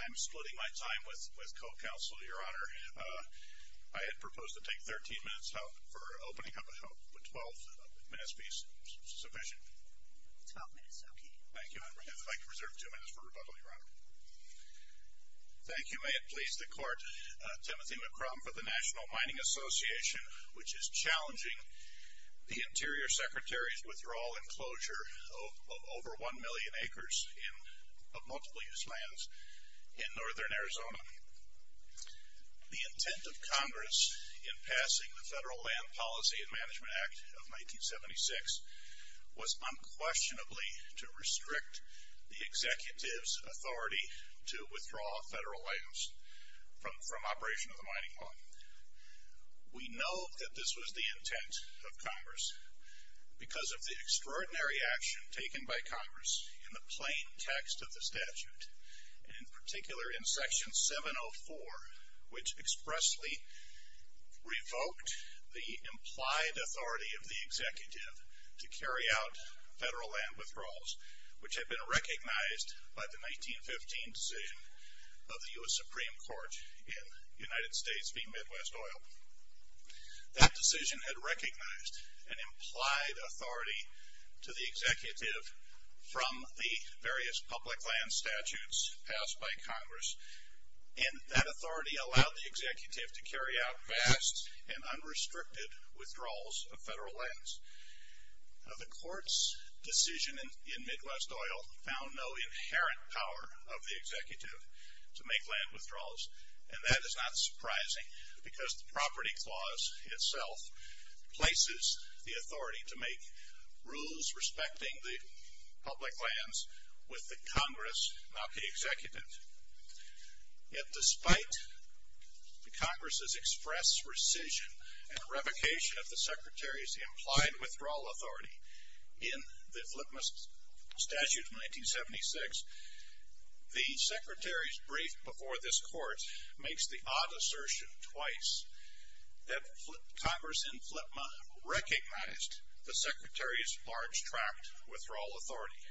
I'm splitting my time with co-counsel, Your Honor. I had proposed to take 13 minutes for opening up a 12-minute speech. Is that sufficient? 12 minutes, okay. Thank you. I'd like to reserve two minutes for rebuttal, Your Honor. Thank you. May it please the Court, Timothy McCrum for the National Mining Association, which is challenging the Interior Secretary's withdrawal and closure of over 1 million acres of multiple-use lands in northern Arizona. The intent of Congress in passing the Federal Land Policy and Management Act of 1976 was unquestionably to restrict the executive's authority to withdraw federal lands from operation of the mining fund. We know that this was the intent of Congress because of the extraordinary action taken by Congress in the plain text of the statute, in particular in Section 704, which expressly revoked the implied authority of the executive to carry out federal land withdrawals, which had been recognized by the 1915 decision of the U.S. Supreme Court in United States v. Midwest Oil. That decision had recognized an implied authority to the executive from the various public land statutes passed by Congress, and that authority allowed the executive to carry out vast and unrestricted withdrawals of federal lands. The Court's decision in Midwest Oil found no inherent power of the executive to make land withdrawals, and that is not surprising because the property clause itself places the authority to make rules respecting the public lands with the Congress, not the executive. Yet despite the Congress's express rescission and revocation of the Secretary's implied withdrawal authority in the FLTMA statute of 1976, the Secretary's brief before this Court makes the odd assertion twice that Congress in FLTMA recognized the Secretary's large-tract withdrawal authority.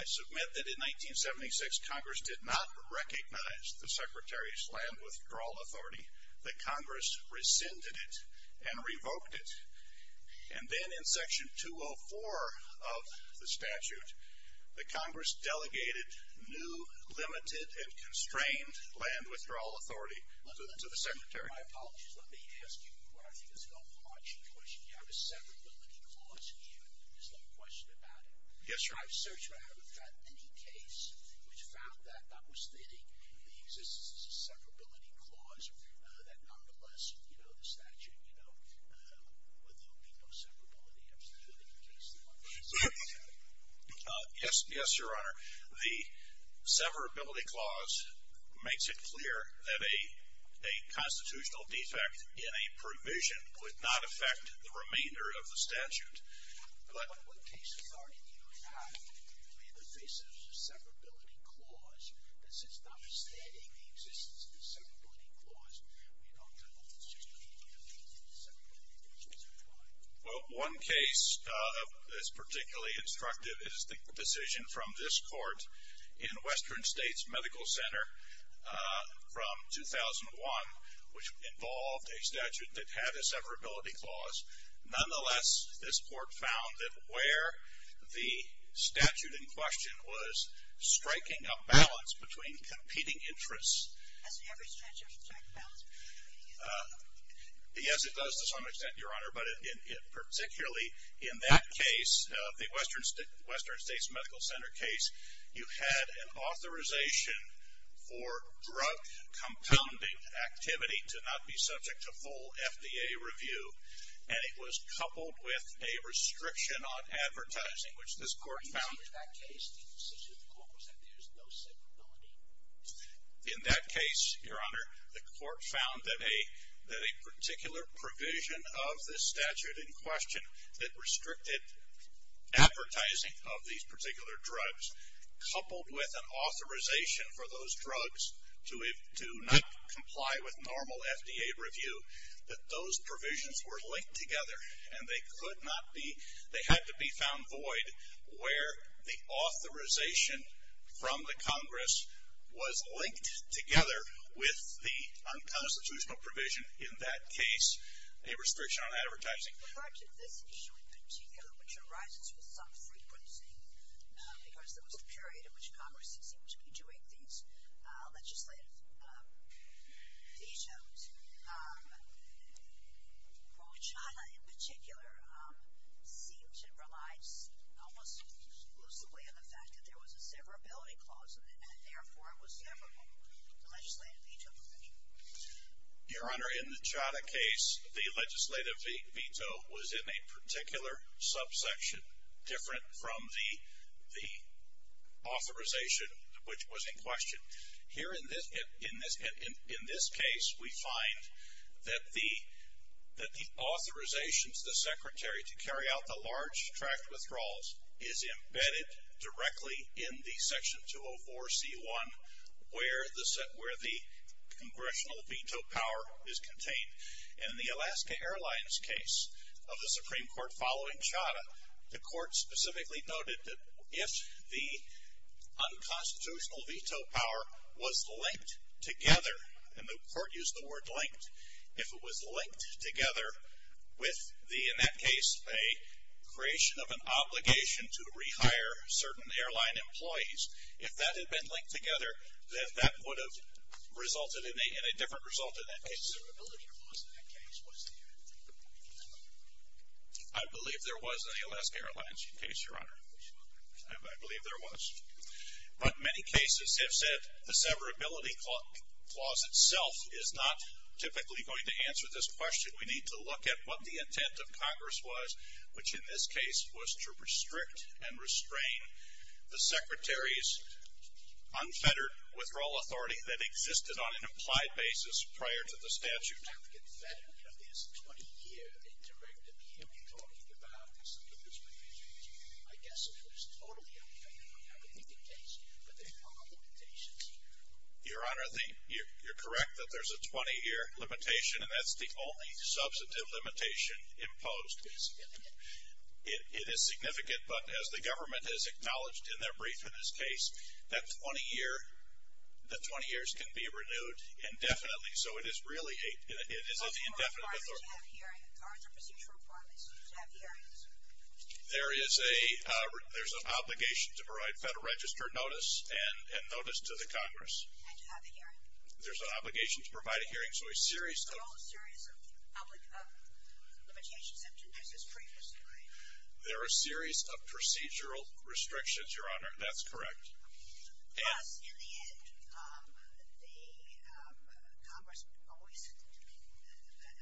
I submit that in 1976, Congress did not recognize the Secretary's land withdrawal authority. The Congress rescinded it and revoked it. And then in Section 204 of the statute, the Congress delegated new, limited, and constrained land withdrawal authority to the Secretary. My apologies. Let me ask you what I think is an overarching question. You have a severability clause in here. There's no question about it. Yes, Your Honor. I've searched and I haven't found any case which found that notwithstanding the existence of a severability clause, that nonetheless, you know, the statute, you know, would there be no severability? I'm just wondering in case there was. Yes, Your Honor. The severability clause makes it clear that a constitutional defect in a provision would not affect the remainder of the statute. But what cases are you having in the face of a severability clause that since notwithstanding the existence of a severability clause, we don't have a case in which severability is implied? Well, one case that's particularly instructive is the decision from this court in Western States Medical Center from 2001, which involved a statute that had a severability clause. Nonetheless, this court found that where the statute in question was striking a balance between competing interests. Doesn't every statute strike a balance between competing interests? Yes, it does to some extent, Your Honor. But particularly in that case, the Western States Medical Center case, you had an authorization for drug compounding activity to not be subject to full FDA review. And it was coupled with a restriction on advertising, which this court found. In that case, the decision of the court was that there's no severability? In that case, Your Honor, the court found that a particular provision of the statute in question that restricted advertising of these particular drugs coupled with an authorization for those drugs to not comply with normal FDA review, that those provisions were linked together. And they could not be, they had to be found void where the authorization from the Congress was linked together with the unconstitutional provision in that case, a restriction on advertising. With regard to this issue in particular, which arises with some frequency, because there was a period in which Congress seemed to be doing these legislative vetoes, well, CHATA in particular seemed to rely almost exclusively on the fact that there was a severability clause in it. And therefore, it was severable, the legislative veto provision. Your Honor, in the CHATA case, the legislative veto was in a particular subsection, different from the authorization which was in question. Here in this case, we find that the authorizations, the secretary, to carry out the large tract withdrawals is embedded directly in the section 204C1 where the congressional veto power is contained. And in the Alaska Airlines case of the Supreme Court following CHATA, the court specifically noted that if the unconstitutional veto power was linked together, and the court used the word linked, if it was linked together with the, in that case, a creation of an obligation to rehire certain airline employees, if that had been linked together, then that would have resulted in a different result in that case. I believe there was a Alaska Airlines case, Your Honor. I believe there was. But many cases have said the severability clause itself is not typically going to answer this question. We need to look at what the intent of Congress was, which in this case was to restrict and restrain the secretary's unfettered withdrawal authority that existed on an implied basis prior to the statute. If there's a 20-year interruptive hearing talking about this, I guess it was totally unfettered. I would think the case, but there are limitations. Your Honor, you're correct that there's a 20-year limitation, and that's the only substantive limitation imposed. It is significant, but as the government has acknowledged in their brief in this case, that 20 years can be renewed indefinitely. So it is really a, it is an indefinite authority. Do all court requirements have hearing? Are there procedural requirements to have hearings? There is a, there's an obligation to provide Federal Register notice and notice to the Congress. And to have a hearing. There's an obligation to provide a hearing. So a series of. There are a series of limitations introduced as previously. There are a series of procedural restrictions, Your Honor. That's correct. Yes. In the end, the Congress always, when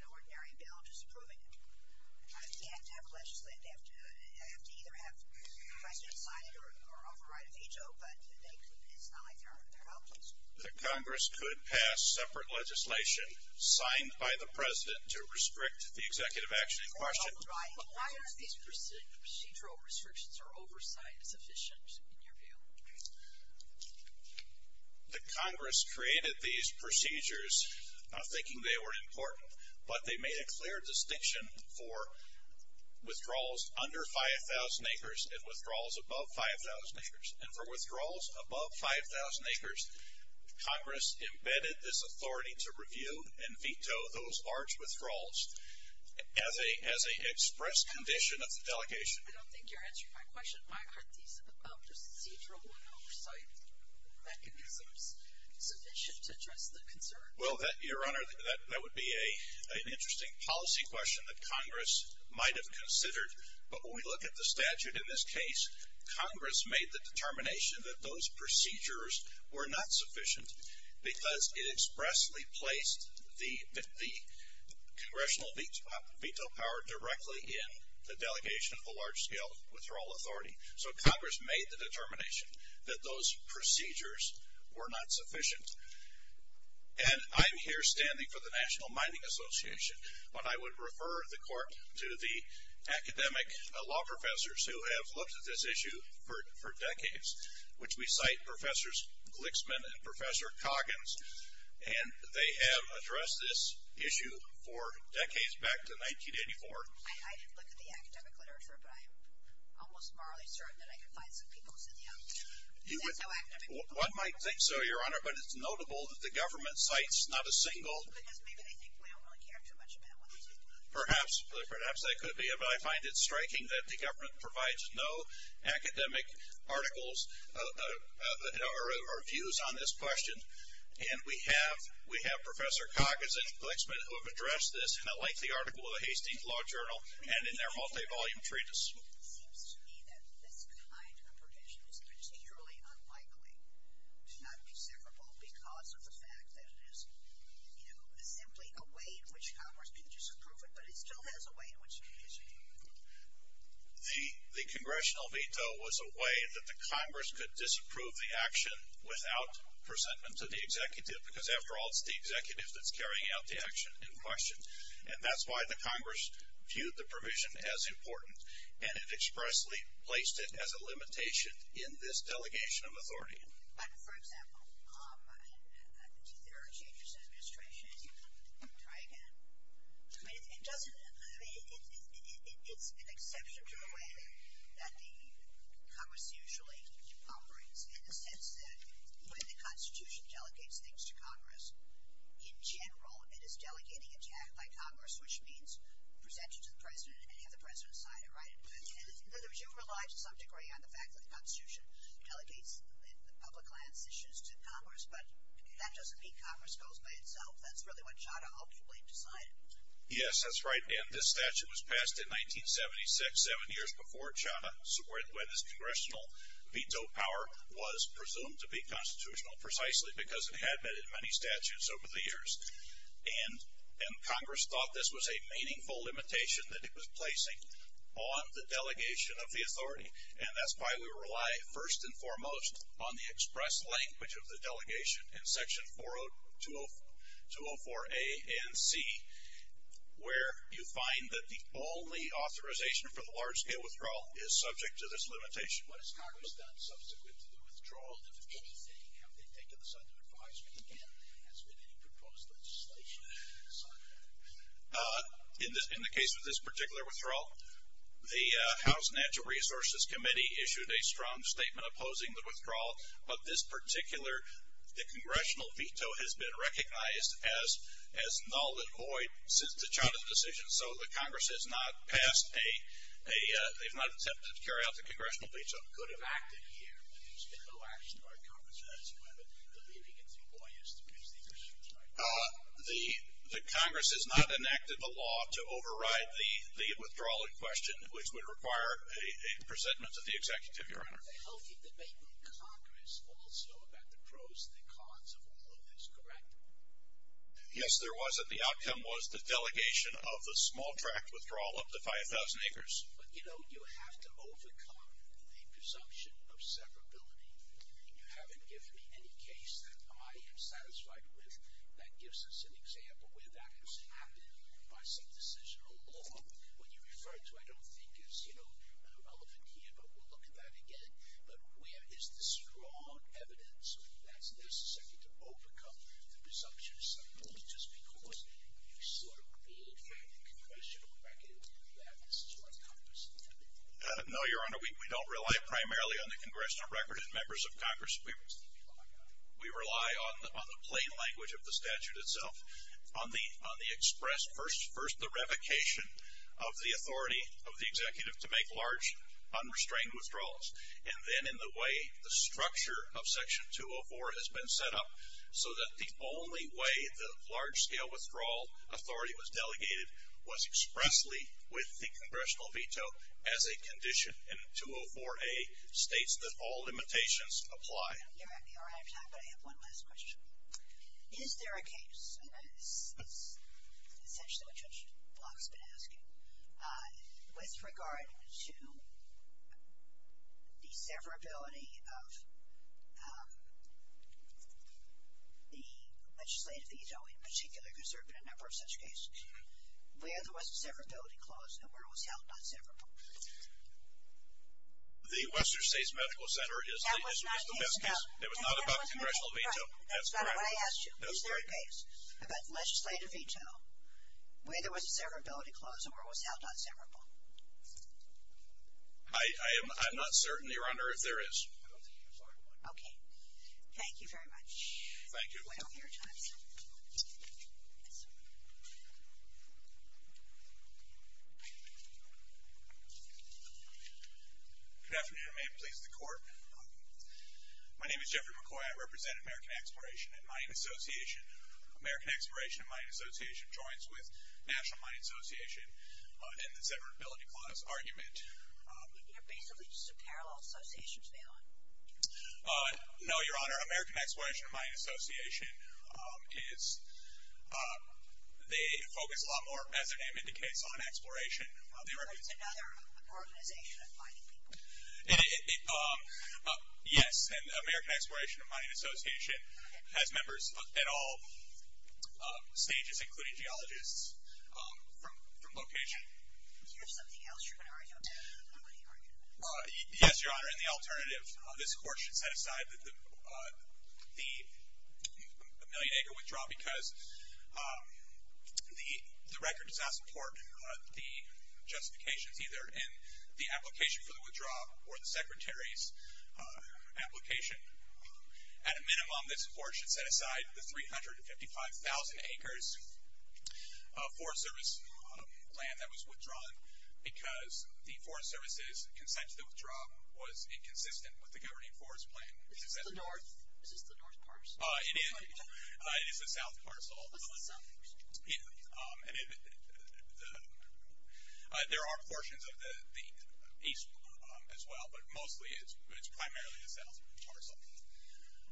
an ordinary bill is approving it, they have to have legislative, they have to either have the President sign it or offer right of veto, but it's not like they're outlaws. The Congress could pass separate legislation signed by the President to restrict the executive action in question. Right. But why aren't these procedural restrictions or oversight sufficient in your view? The Congress created these procedures not thinking they were important, but they made a clear distinction for withdrawals under 5,000 acres and withdrawals above 5,000 acres. And for withdrawals above 5,000 acres, Congress embedded this authority to review and veto those large withdrawals as an express condition of the delegation. I don't think you're answering my question. Why aren't these procedural oversight mechanisms sufficient to address the concern? Well, Your Honor, that would be an interesting policy question that Congress might have considered. But when we look at the statute in this case, Congress made the determination that those procedures were not sufficient because it expressly placed the congressional veto power directly in the delegation of a large-scale withdrawal authority. So Congress made the determination that those procedures were not sufficient. And I'm here standing for the National Mining Association, but I would refer the Court to the academic law professors who have looked at this issue for decades, which we cite Professors Glixman and Professor Coggins. And they have addressed this issue for decades, back to 1984. I didn't look at the academic literature, but I am almost morally certain that I can find some people who said, yeah, there's no academic literature. One might think so, Your Honor, but it's notable that the government cites not a single. Because maybe they think we don't really care too much about what they do. Perhaps. Perhaps they could be. But I find it striking that the government provides no academic articles or views on this question. And we have Professor Coggins and Glixman who have addressed this in a lengthy article in the Hastings Law Journal and in their multi-volume treatise. It seems to me that this kind of provision is particularly unlikely to not be severable because of the fact that it is, you know, simply a way in which Congress can disapprove it. But it still has a way in which it can disapprove it. The congressional veto was a way that the Congress could disapprove the action without presentment to the executive. Because, after all, it's the executive that's carrying out the action in question. And that's why the Congress viewed the provision as important. And it expressly placed it as a limitation in this delegation of authority. But, for example, there are changes in administration. Try again. I mean, it doesn't – I mean, it's an exception to the way that the Congress usually operates in the sense that when the Constitution delegates things to Congress, in general, it is delegating a check by Congress, which means presenting to the president and having the president sign it, right? In other words, you rely to some degree on the fact that the Constitution delegates public lands issues to Congress. But that doesn't mean Congress goes by itself. That's really what Chadha ultimately decided. Yes, that's right. And this statute was passed in 1976, seven years before Chadha, when his congressional veto power was presumed to be constitutional, precisely because it had been in many statutes over the years. And Congress thought this was a meaningful limitation that it was placing on the delegation of the authority. And that's why we rely, first and foremost, on the express language of the delegation in Section 404A and C, where you find that the only authorization for the large-scale withdrawal is subject to this limitation. What has Congress done subsequent to the withdrawal? If anything, have they taken the side of advisory again? Has there been any proposed legislation in the side of that? In the case of this particular withdrawal, the House Natural Resources Committee issued a strong statement opposing the withdrawal. But this particular, the congressional veto has been recognized as null and void since the Chadha decision. So the Congress has not passed a, they've not attempted to carry out the congressional veto. Could have acted here, but there's been no action by Congress as to whether deleting it through lawyers to fix the issue tonight. The Congress has not enacted the law to override the withdrawal in question, which would require a presentment to the Executive, Your Honor. There was a healthy debate in Congress also about the pros and the cons of all of this, correct? Yes, there was. And the outcome was the delegation of the small tract withdrawal up to 5,000 acres. But, you know, you have to overcome the presumption of severability. You haven't given me any case that I am satisfied with that gives us an example where that has happened by some decision or law. What you refer to I don't think is, you know, relevant here, but we'll look at that again. But where is the strong evidence that's necessary to overcome the presumption of severability just because you sort of made for the congressional record that this is what Congress intended? No, Your Honor. We don't rely primarily on the congressional record as members of Congress. We rely on the plain language of the statute itself, on the express, first the revocation of the authority of the Executive to make large unrestrained withdrawals, and then in the way the structure of Section 204 has been set up so that the only way the large-scale withdrawal authority was delegated was expressly with the congressional veto as a condition. And 204A states that all limitations apply. Your Honor, I have time, but I have one last question. Is there a case, and this is essentially what Judge Block has been asking, with regard to the severability of the legislative veto in particular, because there have been a number of such cases, where there was a severability clause and where it was held not severable? The Western States Medical Center is the best case. It was not about congressional veto. That's correct. When I asked you, is there a case about legislative veto, where there was a severability clause and where it was held not severable? I'm not certain, Your Honor, if there is. Okay. Thank you very much. Thank you. We're way over your time, sir. Good afternoon. May it please the Court. My name is Jeffrey McCoy. I represent American Exploration and Mining Association. American Exploration and Mining Association joins with National Mining Association in the severability clause argument. You're basically just a parallel association to them. No, Your Honor. American Exploration and Mining Association is the focus a lot more, as their name indicates, on exploration. There is another organization of mining people. Yes. And American Exploration and Mining Association has members at all stages, including geologists, from location. Do you have something else you're going to argue about? Yes, Your Honor. Your Honor, in the alternative, this Court should set aside the million-acre withdrawal because the record does not support the justifications either in the application for the withdrawal or the Secretary's application. At a minimum, this Court should set aside the 355,000 acres of Forest Service land that was withdrawn because the Forest Service's consent to the withdrawal was inconsistent with the Governing Forest Plan. Is this the north parcel? It is. It is the south parcel. What's the south parcel? There are portions of the east as well, but mostly it's primarily the south parcel.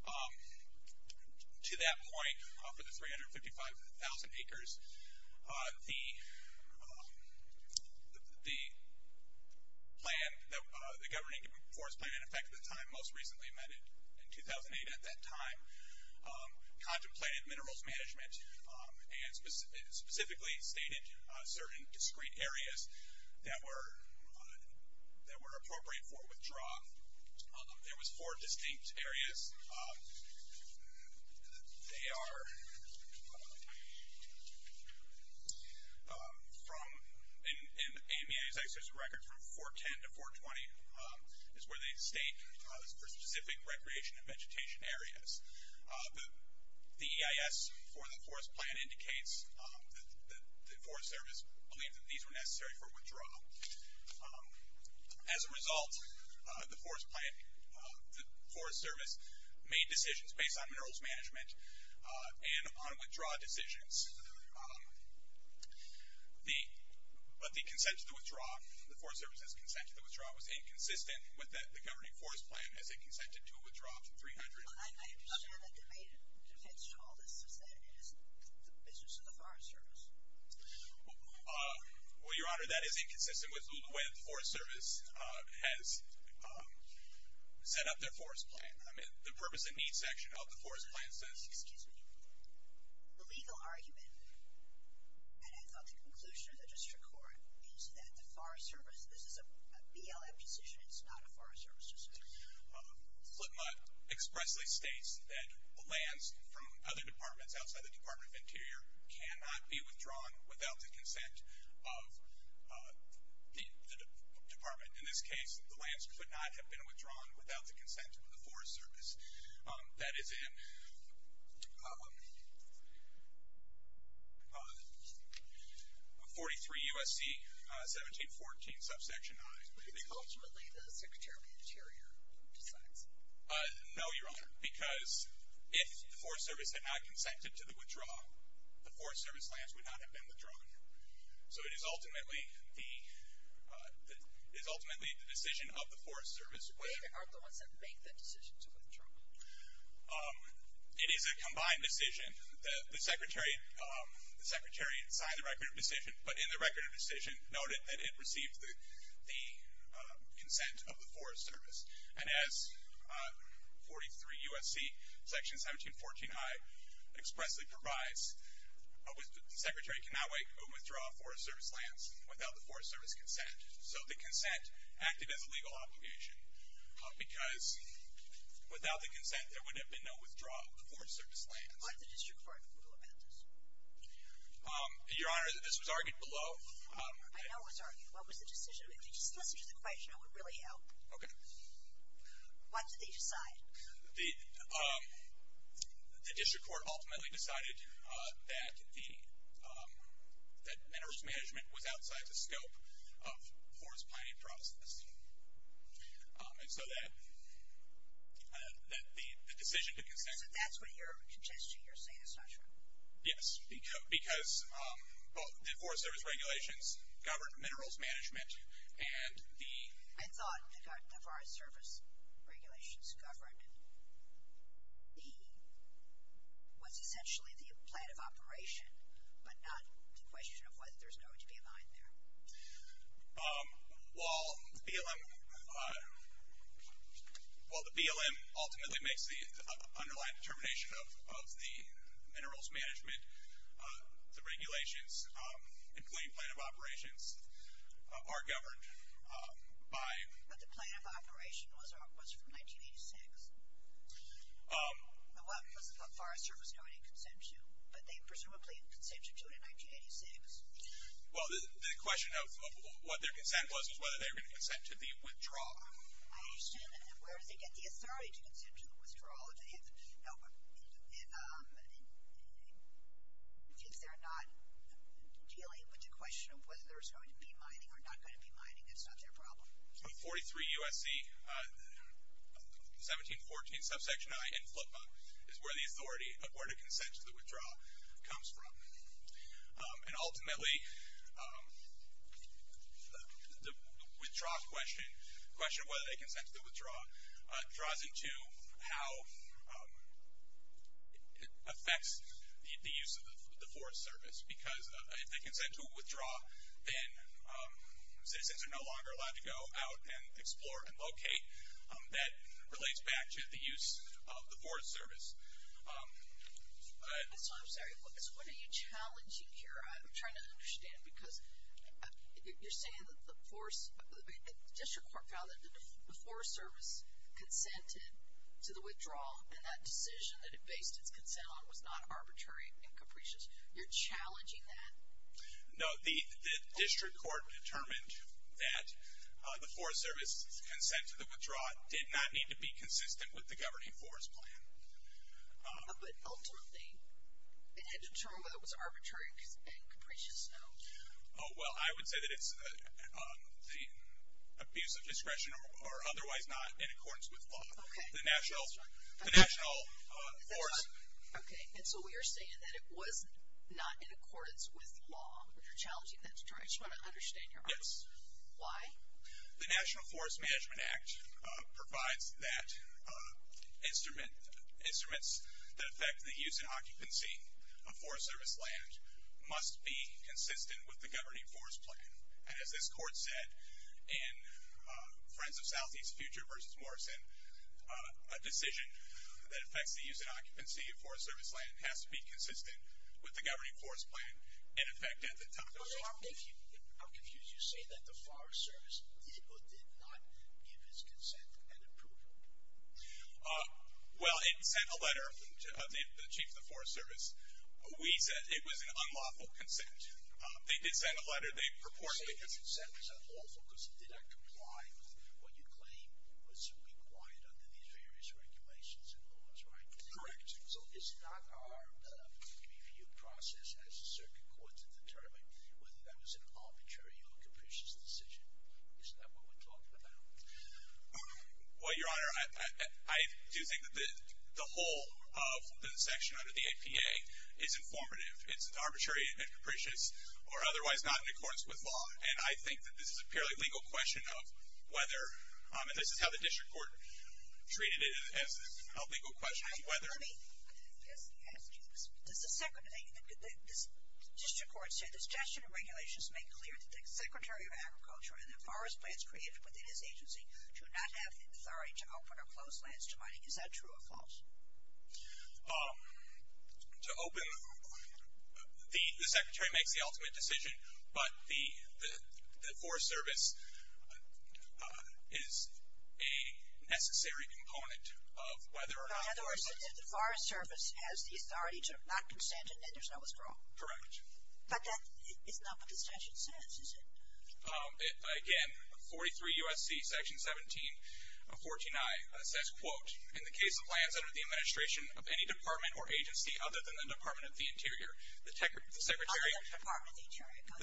To that point, for the 355,000 acres, the Governing Forest Plan, in effect at the time most recently amended in 2008 at that time, contemplated minerals management and specifically stated certain discrete areas that were appropriate for withdrawal. There was four distinct areas. They are from, in AMEA's executive record, from 410 to 420 is where they state for specific recreation and vegetation areas. The EIS for the Forest Plan indicates that the Forest Service believed that these were necessary for withdrawal. As a result, the Forest Service made decisions based on minerals management and on withdrawal decisions, but the Forest Service's consent to the withdrawal was inconsistent with the Governing Forest Plan as it consented to withdraw 300 acres. I understand that the main defense to all this is that it is the business of the Forest Service. Well, Your Honor, that is inconsistent with the way that the Forest Service has set up their Forest Plan. I mean, the purpose and needs section of the Forest Plan says... Excuse me. The legal argument, and I thought the conclusion of the district court, is that the Forest Service, this is a BLM decision, it's not a Forest Service decision. Flipmutt expressly states that lands from other departments outside the Department of Interior cannot be withdrawn without the consent of the department. In this case, the lands could not have been withdrawn without the consent of the Forest Service. That is in 43 U.S.C. 1714, subsection I. Ultimately, the Secretary of the Interior decides. No, Your Honor, because if the Forest Service had not consented to the withdrawal, the Forest Service lands would not have been withdrawn. So it is ultimately the decision of the Forest Service. Wait, aren't the ones that make that decision to withdraw? It is a combined decision. The Secretary signed the record of decision, but in the record of decision, noted that it received the consent of the Forest Service. And as 43 U.S.C. section 1714 I expressly provides, the Secretary cannot withdraw Forest Service lands without the Forest Service consent. So the consent acted as a legal obligation, because without the consent there would have been no withdrawal of the Forest Service lands. What did the district court rule about this? Your Honor, this was argued below. I know it was argued. What was the decision? If you just listen to the question, it would really help. Okay. What did they decide? The district court ultimately decided that the minerals management was outside the scope of Forest Planning process. And so that the decision to consent... So that's what you're contesting, you're saying is not true? Yes. Because both the Forest Service regulations governed minerals management and the... I thought the Forest Service regulations governed was essentially the plan of operation, but not the question of whether there's going to be a mine there. While the BLM ultimately makes the underlying determination of the minerals management, the regulations and plain plan of operations are governed by... But the plan of operation was from 1986. What was the Forest Service going to consent to? But they presumably consented to it in 1986. Well, the question of what their consent was was whether they were going to consent to the withdrawal. I understand that. And where does it get the authority to consent to the withdrawal? If they're not dealing with the question of whether there's going to be mining or not going to be mining, that's not their problem. 43 U.S.C. 1714 subsection I in Flipa is where the authority, where the consent to the withdrawal comes from. And ultimately, the withdrawal question, the question of whether they consent to the withdrawal, draws into how it affects the use of the Forest Service. Because if they consent to a withdrawal, then citizens are no longer allowed to go out and explore and locate. That relates back to the use of the Forest Service. I'm sorry. What are you challenging here? I'm trying to understand because you're saying that the District Court found that the Forest Service consented to the withdrawal, and that decision that it based its consent on was not arbitrary and capricious. You're challenging that? No, the District Court determined that the Forest Service's consent to the withdrawal did not need to be consistent with the governing Forest Plan. But ultimately, it had to determine whether it was arbitrary and capricious, no? Well, I would say that it's the abuse of discretion or otherwise not in accordance with law. Okay. The National Forest. Okay. And so we are saying that it was not in accordance with law, but you're challenging that determination. I just want to understand your answer. Yes. Why? The National Forest Management Act provides that instruments that affect the use and occupancy of Forest Service land must be consistent with the governing Forest Plan. And as this Court said in Friends of Southeast Future v. Morrison, a decision that affects the use and occupancy of Forest Service land has to be consistent with the governing Forest Plan and affect it at the time. I'm confused. You're saying that the Forest Service did or did not give its consent and approval. Well, it sent a letter to the Chief of the Forest Service. We said it was an unlawful consent. They did send a letter. They purported it was unlawful because it did not comply with what you claim was required under these various regulations and laws, right? Correct. So is not our review process as a circuit court to determine whether that was an arbitrary or capricious decision? Is that what we're talking about? Well, Your Honor, I do think that the whole of the section under the APA is informative. It's arbitrary and capricious or otherwise not in accordance with law. And I think that this is a purely legal question of whether, and this is how the district court treated it as a legal question, whether. Let me ask you this. Does the district court say the suggestion and regulations make clear that the Secretary of Agriculture and the Forest Plans created within his agency do not have the authority to open or close lands to mining? Is that true or false? To open, the Secretary makes the ultimate decision, but the Forest Service is a necessary component of whether or not. In other words, if the Forest Service has the authority to not consent, then there's no withdrawal. Correct. But that is not what the statute says, is it? Again, 43 U.S.C. Section 17 of 14i says, quote, in the case of lands under the administration of any department or agency other than the Department of the Interior, the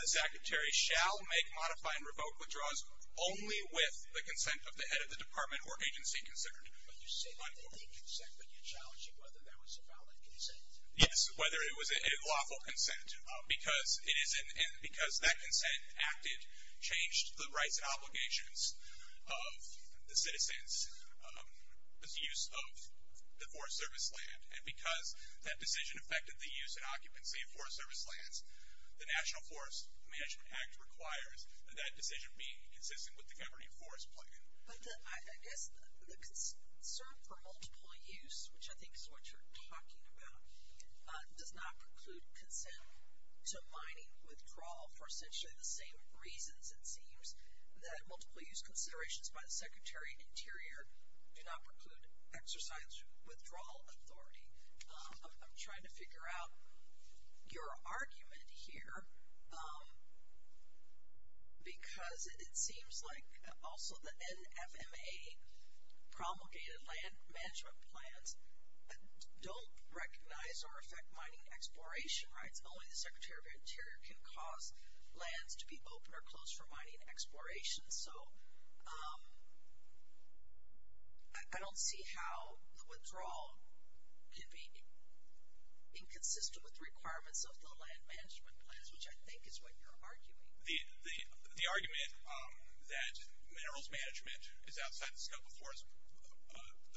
Secretary shall make, modify, and revoke withdrawals only with the consent of the head of the department or agency considered. But you say only consent, but you're challenging whether that was a valid consent. Yes, whether it was a lawful consent. Because that consent acted changed the rights and obligations of the citizens' use of the Forest Service land, and because that decision affected the use and occupancy of Forest Service lands, the National Forest Management Act requires that that decision be consistent with the governing Forest Plan. But I guess the concern for multiple use, which I think is what you're talking about, does not preclude consent to mining withdrawal for essentially the same reasons, it seems, that multiple use considerations by the Secretary Interior do not preclude exercise withdrawal authority. I'm trying to figure out your argument here. Because it seems like also the NFMA promulgated land management plans don't recognize or affect mining exploration rights. Only the Secretary of the Interior can cause lands to be open or closed for mining exploration. So I don't see how the withdrawal could be inconsistent with the requirements of the land management plans, which I think is what you're arguing. The argument that minerals management is outside the scope of the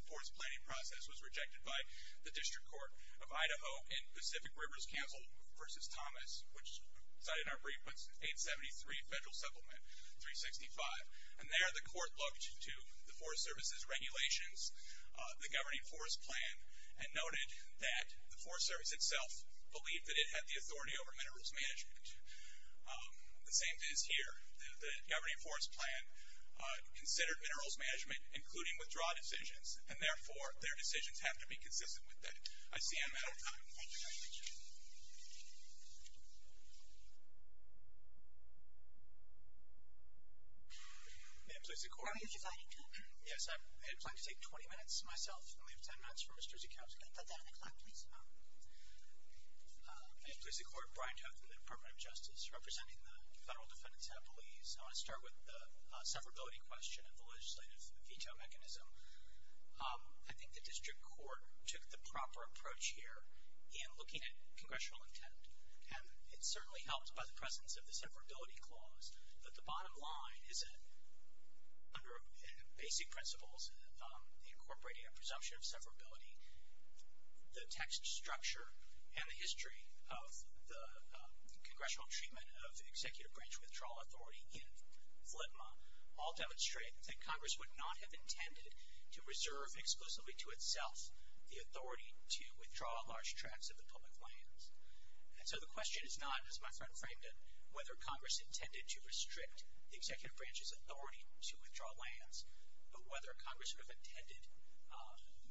forest planning process was rejected by the District Court of Idaho and Pacific Rivers Council v. Thomas, which cited in our brief was 873 Federal Supplement 365. And there the court looked to the Forest Service's regulations, the governing Forest Plan, and noted that the Forest Service itself believed that it had the authority over minerals management. The same is here. The governing Forest Plan considered minerals management, including withdrawal decisions, and therefore their decisions have to be consistent with that. I see I'm out of time. Thank you. May it please the Court. Are you deciding to? Yes. I had planned to take 20 minutes myself. I only have 10 minutes for Mr. Zekowski. At the 10 o'clock, please. May it please the Court. Brian Toth from the Department of Justice, representing the Federal Defendant's Appellees. I want to start with the severability question of the legislative veto mechanism. I think the District Court took the proper approach here in looking at congressional intent. And it certainly helps by the presence of the severability clause, but the bottom line is that under basic principles, incorporating a presumption of severability, the text structure and the history of the congressional treatment of executive branch withdrawal authority in FLTMA all demonstrate that Congress would not have intended to reserve exclusively to itself the authority to withdraw large tracts of the public lands. And so the question is not, as my friend framed it, whether Congress intended to restrict the executive branch's authority to withdraw lands, but whether Congress would have intended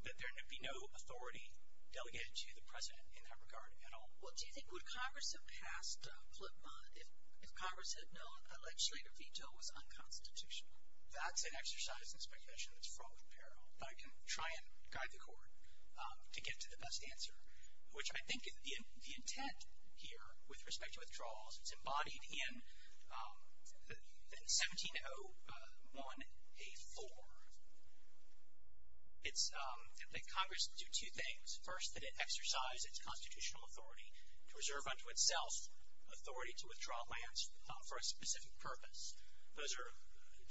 that there be no authority delegated to the President in that regard at all. Well, do you think would Congress have passed FLTMA if Congress had known a legislative veto was unconstitutional? That's an exercise in speculation that's fraught with peril. But I can try and guide the Court to get to the best answer, which I think the intent here with respect to withdrawals is embodied in 1701A4. It's that Congress do two things. First, that it exercise its constitutional authority to reserve unto itself authority to withdraw lands for a specific purpose. Those are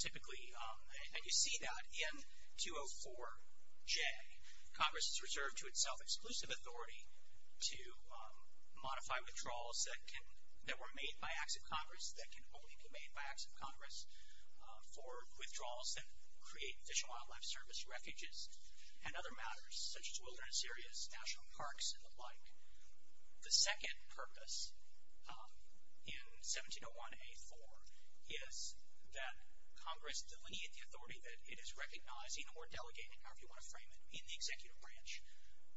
typically, and you see that in 204J. Congress has reserved to itself exclusive authority to modify withdrawals that were made by acts of Congress that can only be made by acts of Congress for withdrawals that create Fish and Wildlife Service refuges and other matters such as wilderness areas, national parks, and the like. The second purpose in 1701A4 is that Congress delineate the authority that it is recognizing or delegating, however you want to frame it, in the executive branch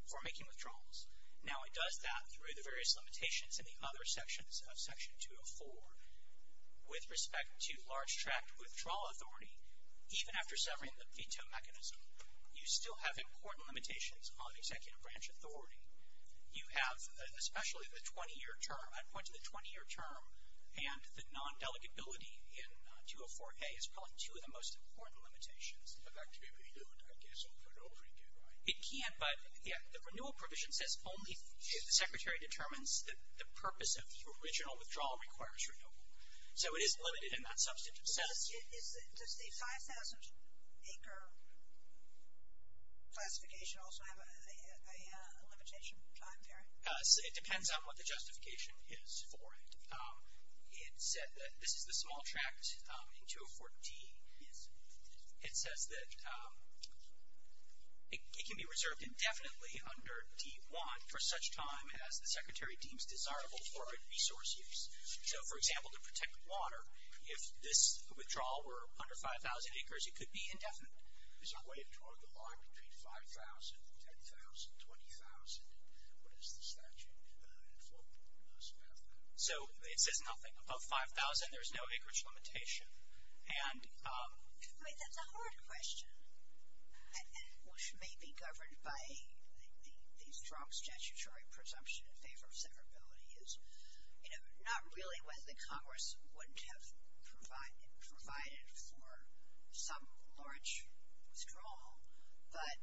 for making withdrawals. Now, it does that through the various limitations in the other sections of Section 204. With respect to large-tract withdrawal authority, even after severing the veto mechanism, you still have important limitations on executive branch authority. You have, especially the 20-year term. I'd point to the 20-year term and the non-delegability in 204A as probably two of the most important limitations. But that can be renewed, I guess, over and over again, right? It can, but the renewal provision says only if the Secretary determines that the purpose of the original withdrawal requires renewal. So it is limited in that substantive sense. Does the 5,000-acre classification also have a limitation time period? It depends on what the justification is for it. It said that this is the small tract in 204D. It says that it can be reserved indefinitely under D1 for such time as the Secretary deems desirable for resource use. So, for example, to protect water, if this withdrawal were under 5,000 acres, it could be indefinite. Is there a way to draw the line between 5,000, 10,000, 20,000? What does the statute inform us about that? So it says nothing. Above 5,000, there's no acreage limitation. I mean, that's a hard question, which may be governed by the strong statutory presumption in favor of severability. Not really whether the Congress would have provided for some large withdrawal, but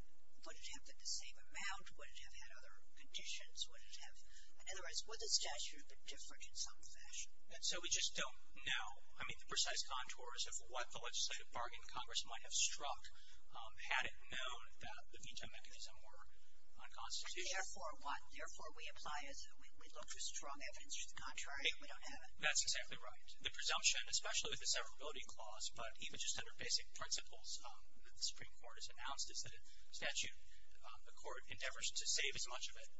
would it have been the same amount? Would it have had other conditions? In other words, would the statute have been different in some fashion? So we just don't know. I mean, the precise contours of what the legislative bargain Congress might have struck, had it known that the veto mechanism were unconstitutional. Therefore, we apply as we look for strong evidence for the contrary, and we don't have it. That's exactly right. The presumption, especially with the severability clause, but even just under basic principles that the Supreme Court has announced, is that a statute, a court endeavors to save as much of it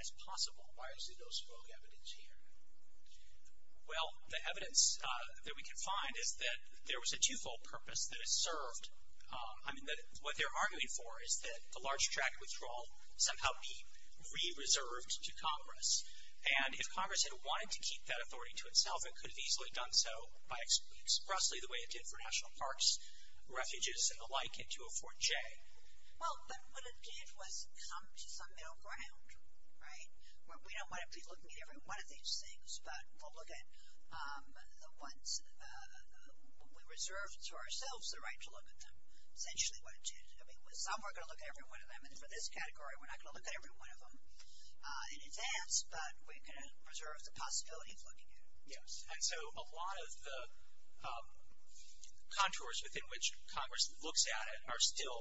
as possible. Why is there no strong evidence here? Well, the evidence that we can find is that there was a twofold purpose that it served. I mean, what they're arguing for is that the large tract withdrawal somehow be re-reserved to Congress. And if Congress had wanted to keep that authority to itself, it could have easily done so expressly the way it did for national parks, refuges, and the like, and to a Fort J. Well, but what it did was come to some middle ground, right, where we don't want to be looking at every one of these things, but we'll look at what we reserved to ourselves the right to look at them, essentially what it did. I mean, with some, we're going to look at every one of them. And for this category, we're not going to look at every one of them in advance, but we're going to reserve the possibility of looking at it. Yes, and so a lot of the contours within which Congress looks at it are still,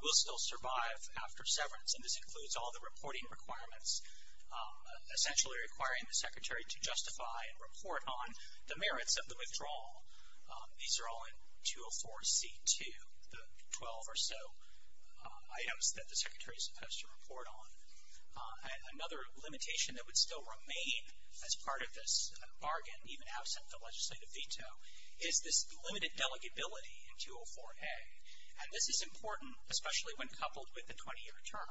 will still survive after severance. And this includes all the reporting requirements, essentially requiring the Secretary to justify and report on the merits of the withdrawal. These are all in 204C2, the 12 or so items that the Secretary is supposed to report on. Another limitation that would still remain as part of this bargain, even absent the legislative veto, is this limited delegability in 204A. And this is important, especially when coupled with the 20-year term.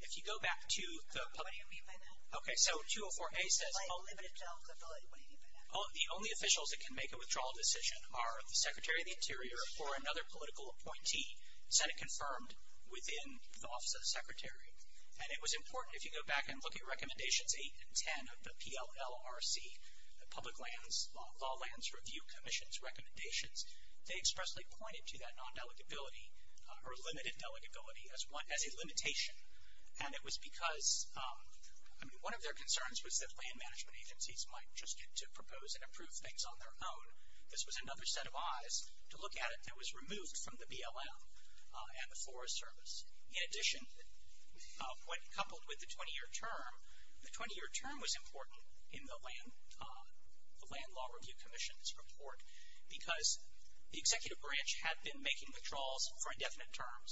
If you go back to the public. What do you mean by that? Okay, so 204A says. What do you mean by that? The only officials that can make a withdrawal decision are the Secretary of the Interior or another political appointee, Senate-confirmed, within the office of the Secretary. And it was important, if you go back and look at Recommendations 8 and 10 of the PLLRC, the Public Lands, Law Lands Review Commission's recommendations, they expressly pointed to that non-delegability or limited delegability as a limitation. And it was because, I mean, one of their concerns was that land management agencies might just get to propose and approve things on their own. This was another set of eyes to look at it that was removed from the BLM and the Forest Service. In addition, when coupled with the 20-year term, the 20-year term was important in the Land Law Review Commission's report because the executive branch had been making withdrawals for indefinite terms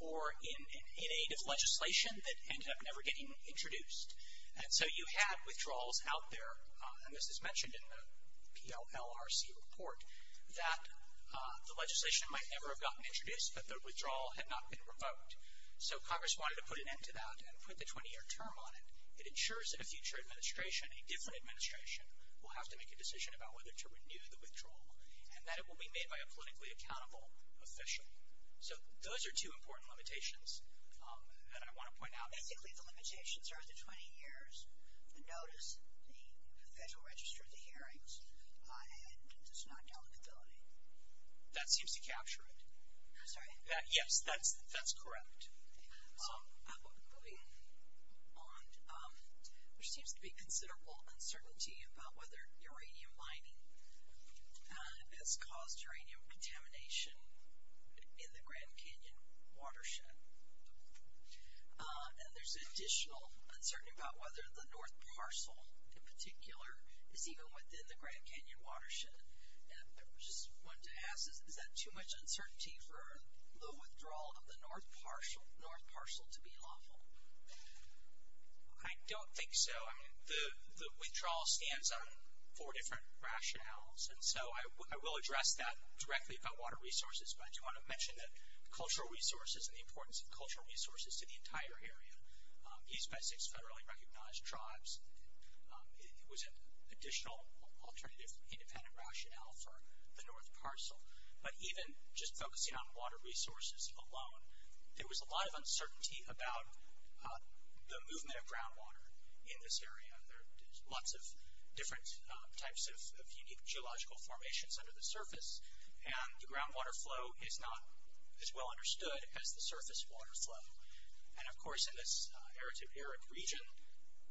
or in aid of legislation that ended up never getting introduced. And so you had withdrawals out there, and this is mentioned in the PLLRC report, that the legislation might never have gotten introduced, but the withdrawal had not been revoked. So Congress wanted to put an end to that and put the 20-year term on it. It ensures that a future administration, a different administration, will have to make a decision about whether to renew the withdrawal and that it will be made by a politically accountable official. So those are two important limitations that I want to point out. Basically, the limitations are the 20 years, the notice, the Federal Register, the hearings, and just not accountability. That seems to capture it. I'm sorry? Yes, that's correct. Moving on, there seems to be considerable uncertainty about whether uranium mining has caused uranium contamination in the Grand Canyon watershed. And there's additional uncertainty about whether the North Parcel, in particular, is even within the Grand Canyon watershed. And I just wanted to ask, is that too much uncertainty for the withdrawal of the North Parcel to be lawful? I don't think so. I mean, the withdrawal stands on four different rationales, and so I will address that directly about water resources, but I do want to mention that cultural resources and the importance of cultural resources to the entire area. East Besix federally recognized tribes. It was an additional alternative independent rationale for the North Parcel. But even just focusing on water resources alone, there was a lot of uncertainty about the movement of groundwater in this area. There are lots of different types of unique geological formations under the surface, and the groundwater flow is not as well understood as the surface water flow. And, of course, in this arid to arid region,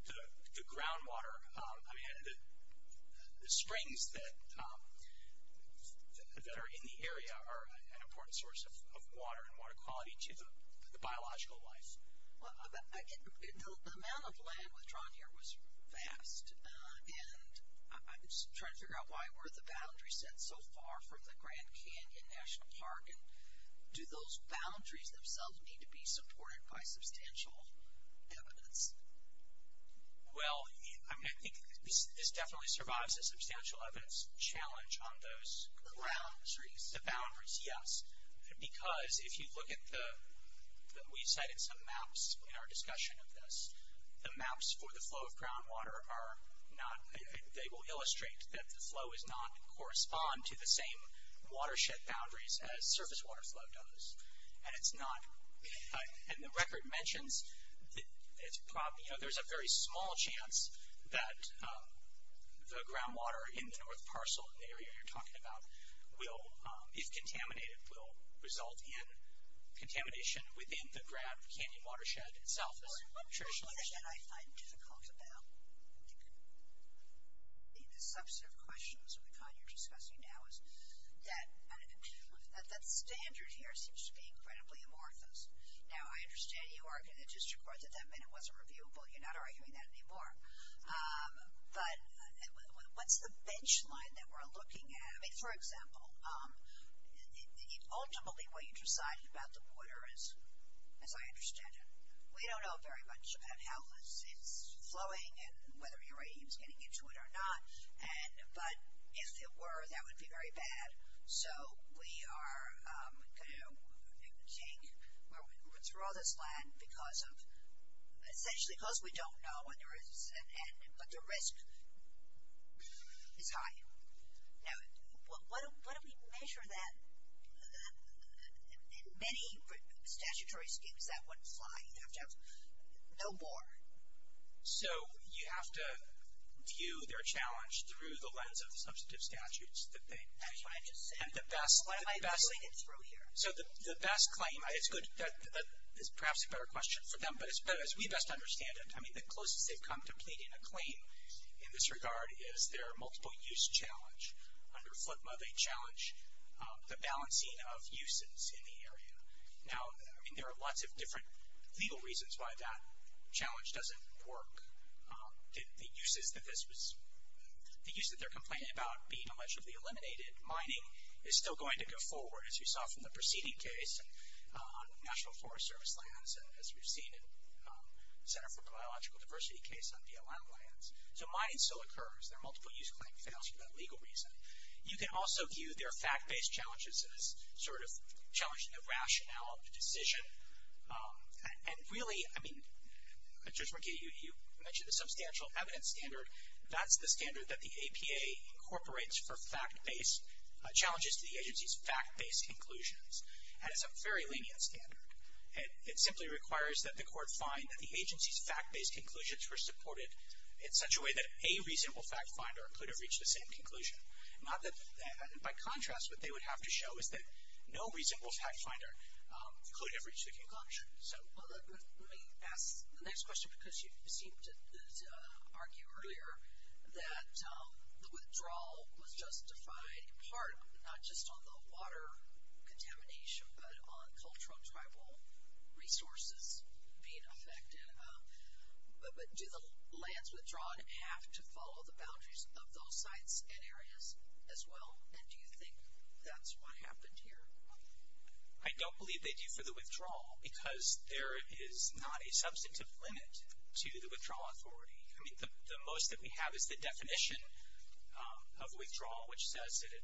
the groundwater, I mean, the springs that are in the area are an important source of water and water quality to the biological life. Well, the amount of land withdrawn here was vast, and I'm trying to figure out why were the boundaries set so far from the Grand Canyon National Park, and do those boundaries themselves need to be supported by substantial evidence? Well, I mean, I think this definitely survives a substantial evidence challenge on those. The boundaries. The boundaries, yes. Because if you look at the, we cited some maps in our discussion of this, the maps for the flow of groundwater are not, they will illustrate that the flow does not correspond to the same watershed boundaries as surface water flow does. And it's not, and the record mentions, you know, there's a very small chance that the groundwater in the North Parcel area you're talking about will, if contaminated, will result in contamination within the Grand Canyon watershed itself. Well, and one thing that I find difficult about the substantive questions of the kind you're discussing now is that that standard here seems to be incredibly amorphous. Now, I understand you argue in the district court that that meant it wasn't reviewable. You're not arguing that anymore. But what's the bench line that we're looking at? I mean, for example, ultimately what you decided about the water is, as I understand it, we don't know very much about how it's flowing and whether uranium is getting into it or not. But if it were, that would be very bad. So we are going to take, withdraw this land because of, essentially because we don't know, but the risk is high. Now, what do we measure that in many statutory schemes that would fly? You have to have no more. So you have to view their challenge through the lens of the substantive statutes that they make. That's what I'm just saying. And the best. What am I pulling it through here? So the best claim, it's good, that is perhaps a better question for them. But as we best understand it, I mean, the closest they've come to pleading a claim in this regard is their multiple-use challenge. Under FLTMA, they challenge the balancing of uses in the area. Now, I mean, there are lots of different legal reasons why that challenge doesn't work. The uses that this was, the use that they're complaining about being allegedly eliminated, mining, is still going to go forward, as we saw from the preceding case, on National Forest Service lands, as we've seen in the Center for Biological Diversity case on BLM lands. So mining still occurs. Their multiple-use claim fails for that legal reason. You can also view their fact-based challenges as sort of challenging the rationale of the decision. And really, I mean, Judge McGee, you mentioned the substantial evidence standard. That's the standard that the APA incorporates for fact-based challenges to the agency's fact-based conclusions. And it's a very lenient standard. It simply requires that the court find that the agency's fact-based conclusions were supported in such a way that a reasonable fact-finder could have reached the same conclusion. By contrast, what they would have to show is that no reasonable fact-finder could have reached the conclusion. So let me ask the next question, because you seemed to argue earlier that the withdrawal was justified, in part, not just on the water contamination, but on cultural tribal resources being affected. But do the lands withdrawn have to follow the boundaries of those sites and areas as well? And do you think that's what happened here? I don't believe they do for the withdrawal, because there is not a substantive limit to the withdrawal authority. I mean, the most that we have is the definition of withdrawal, which says that it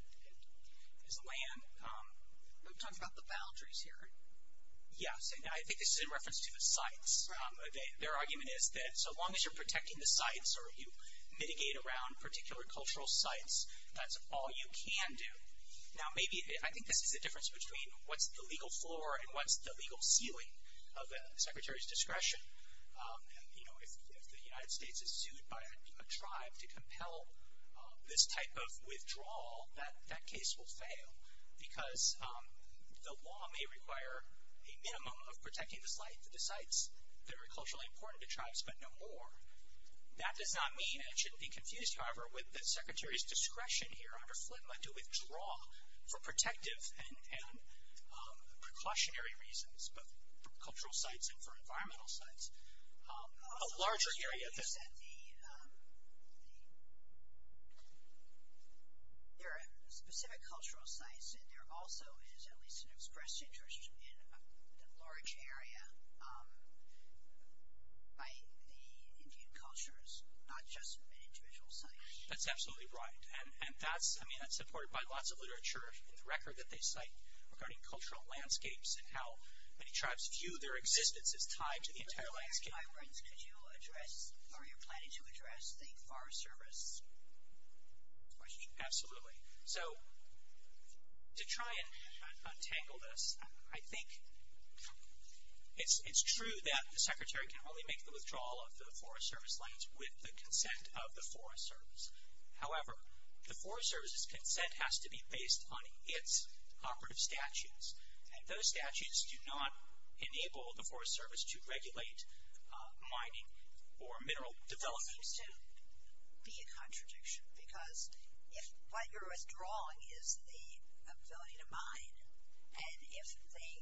is a land. We're talking about the boundaries here. Yes, and I think this is in reference to the sites. Their argument is that so long as you're protecting the sites or you mitigate around particular cultural sites, that's all you can do. Now, maybe I think this is the difference between what's the legal floor and what's the legal ceiling of a secretary's discretion. You know, if the United States is sued by a tribe to compel this type of withdrawal, that case will fail, because the law may require a minimum of protecting the sites that are culturally important to tribes, but no more. That does not mean, and it shouldn't be confused, however, with the secretary's discretion here under FLTMA to withdraw for protective and precautionary reasons, both for cultural sites and for environmental sites, a larger area. But you said there are specific cultural sites, and there also is at least an expressed interest in the large area by the Indian cultures, not just an individual site. That's absolutely right, and that's supported by lots of literature in the record that they cite regarding cultural landscapes and how many tribes view their existence as tied to the entire landscape. Myron, could you address, or are you planning to address the Forest Service question? Absolutely. So, to try and untangle this, I think it's true that the secretary can only make the withdrawal of the Forest Service lands with the consent of the Forest Service. However, the Forest Service's consent has to be based on its operative statutes, and those statutes do not enable the Forest Service to regulate mining or mineral development. It seems to be a contradiction, because if what you're withdrawing is the ability to mine, and if they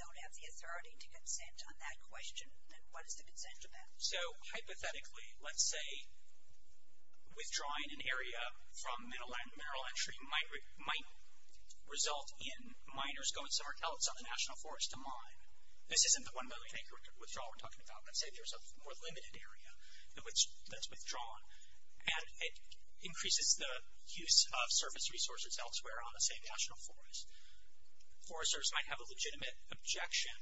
don't have the authority to consent on that question, then what is the consent of that? So, hypothetically, let's say withdrawing an area from mineral entry might result in miners going somewhere else on the National Forest to mine. This isn't the one million acre withdrawal we're talking about. Let's say there's a more limited area that's withdrawn, and it increases the use of service resources elsewhere on the same National Forest. Forest Service might have a legitimate objection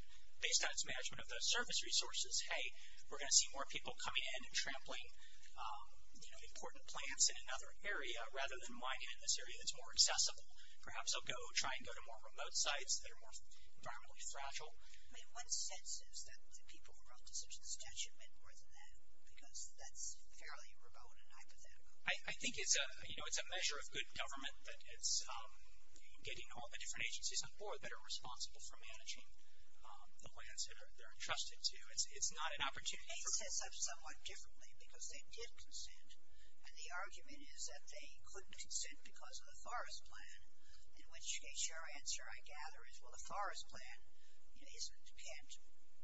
based on its management of those service resources. Hey, we're going to see more people coming in and trampling, you know, important plants in another area, rather than mining in this area that's more accessible. Perhaps they'll go try and go to more remote sites that are more environmentally fragile. I mean, what sense is that the people who wrote this objection meant more than that? Because that's fairly remote and hypothetical. I think it's a, you know, it's a measure of good government that it's getting all the different agencies on board that are responsible for managing the lands that they're entrusted to. It's not an opportunity for us. They set this up somewhat differently because they did consent. And the argument is that they couldn't consent because of the forest plan, in which case your answer, I gather, is, well, the forest plan, you know, isn't, can't,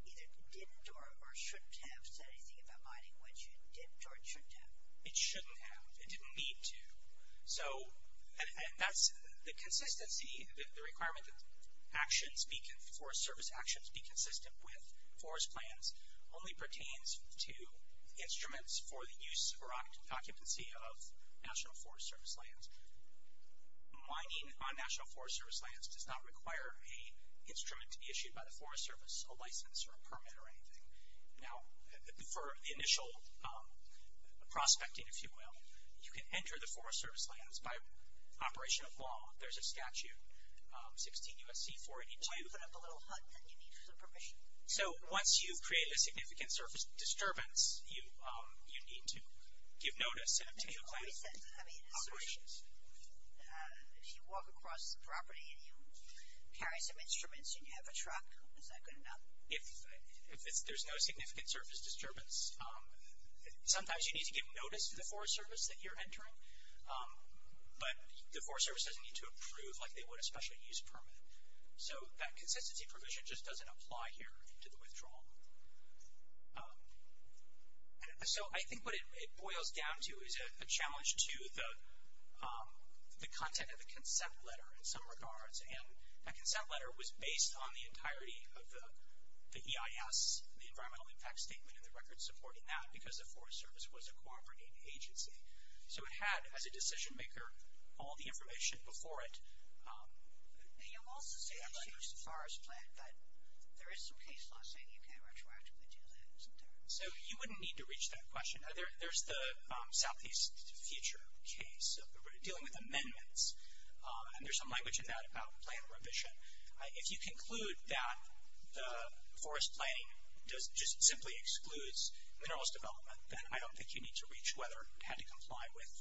either didn't or shouldn't have said anything about mining, which it didn't or it shouldn't have. It shouldn't have. It didn't need to. So, and that's the consistency, the requirement that actions be, that forest service actions be consistent with forest plans only pertains to instruments for the use or occupancy of National Forest Service lands. Mining on National Forest Service lands does not require an instrument to be issued by the Forest Service, a license or a permit or anything. Now, for the initial prospecting, if you will, you can enter the Forest Service lands by operation of law. There's a statute, 16 U.S.C. 482. Why put up a little hut that you need for the permission? So, once you've created a significant surface disturbance, you need to give notice and obtain a plan for operations. But you always said, I mean, if you walk across the property and you carry some instruments and you have a truck, is that good enough? If there's no significant surface disturbance, sometimes you need to give notice to the Forest Service that you're entering. But the Forest Service doesn't need to approve like they would a special use permit. So, that consistency provision just doesn't apply here to the withdrawal. So, I think what it boils down to is a challenge to the content of the consent letter in some regards. And that consent letter was based on the entirety of the EIS, the Environmental Impact Statement, and the record supporting that because the Forest Service was a cooperating agency. So, it had, as a decision maker, all the information before it. And you'll also say that you used a forest plan, but there is some case law saying you can't retroactively do that, isn't there? So, you wouldn't need to reach that question. There's the Southeast Future case dealing with amendments. And there's some language in that about plan revision. If you conclude that the forest planning just simply excludes minerals development, then I don't think you need to reach whether it had to comply with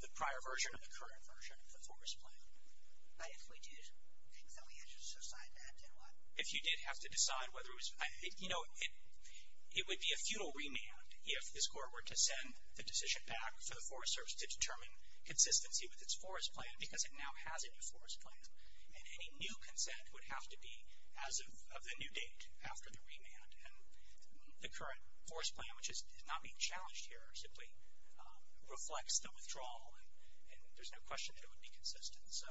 the prior version or the current version of the forest plan. But if we did, then we had to decide that, didn't we? If you did have to decide whether it was, you know, it would be a futile remand if this court were to send the decision back for the Forest Service to determine consistency with its forest plan because it now has a new forest plan. And any new consent would have to be as of the new date after the remand. And the current forest plan, which is not being challenged here, simply reflects the withdrawal. And there's no question that it would be consistent. So,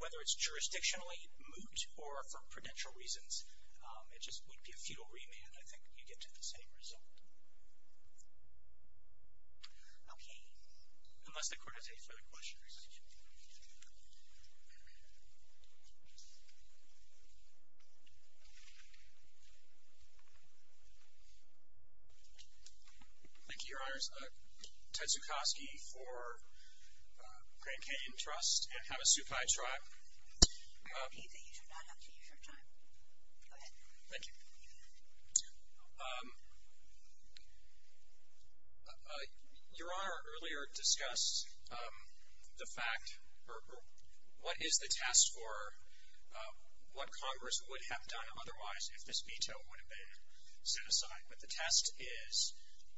whether it's jurisdictionally moot or for prudential reasons, it just would be a futile remand. I think you get to the same result. Okay. Unless the court has any further questions. Thank you, Your Honors. Ted Zukoski for Grand Canyon Trust and Havasupai Tribe. I repeat that you do not have to use your time. Go ahead. Thank you. Your Honor, earlier discussed the fact or what is the test for what Congress would have done otherwise if this veto would have been set aside. But the test is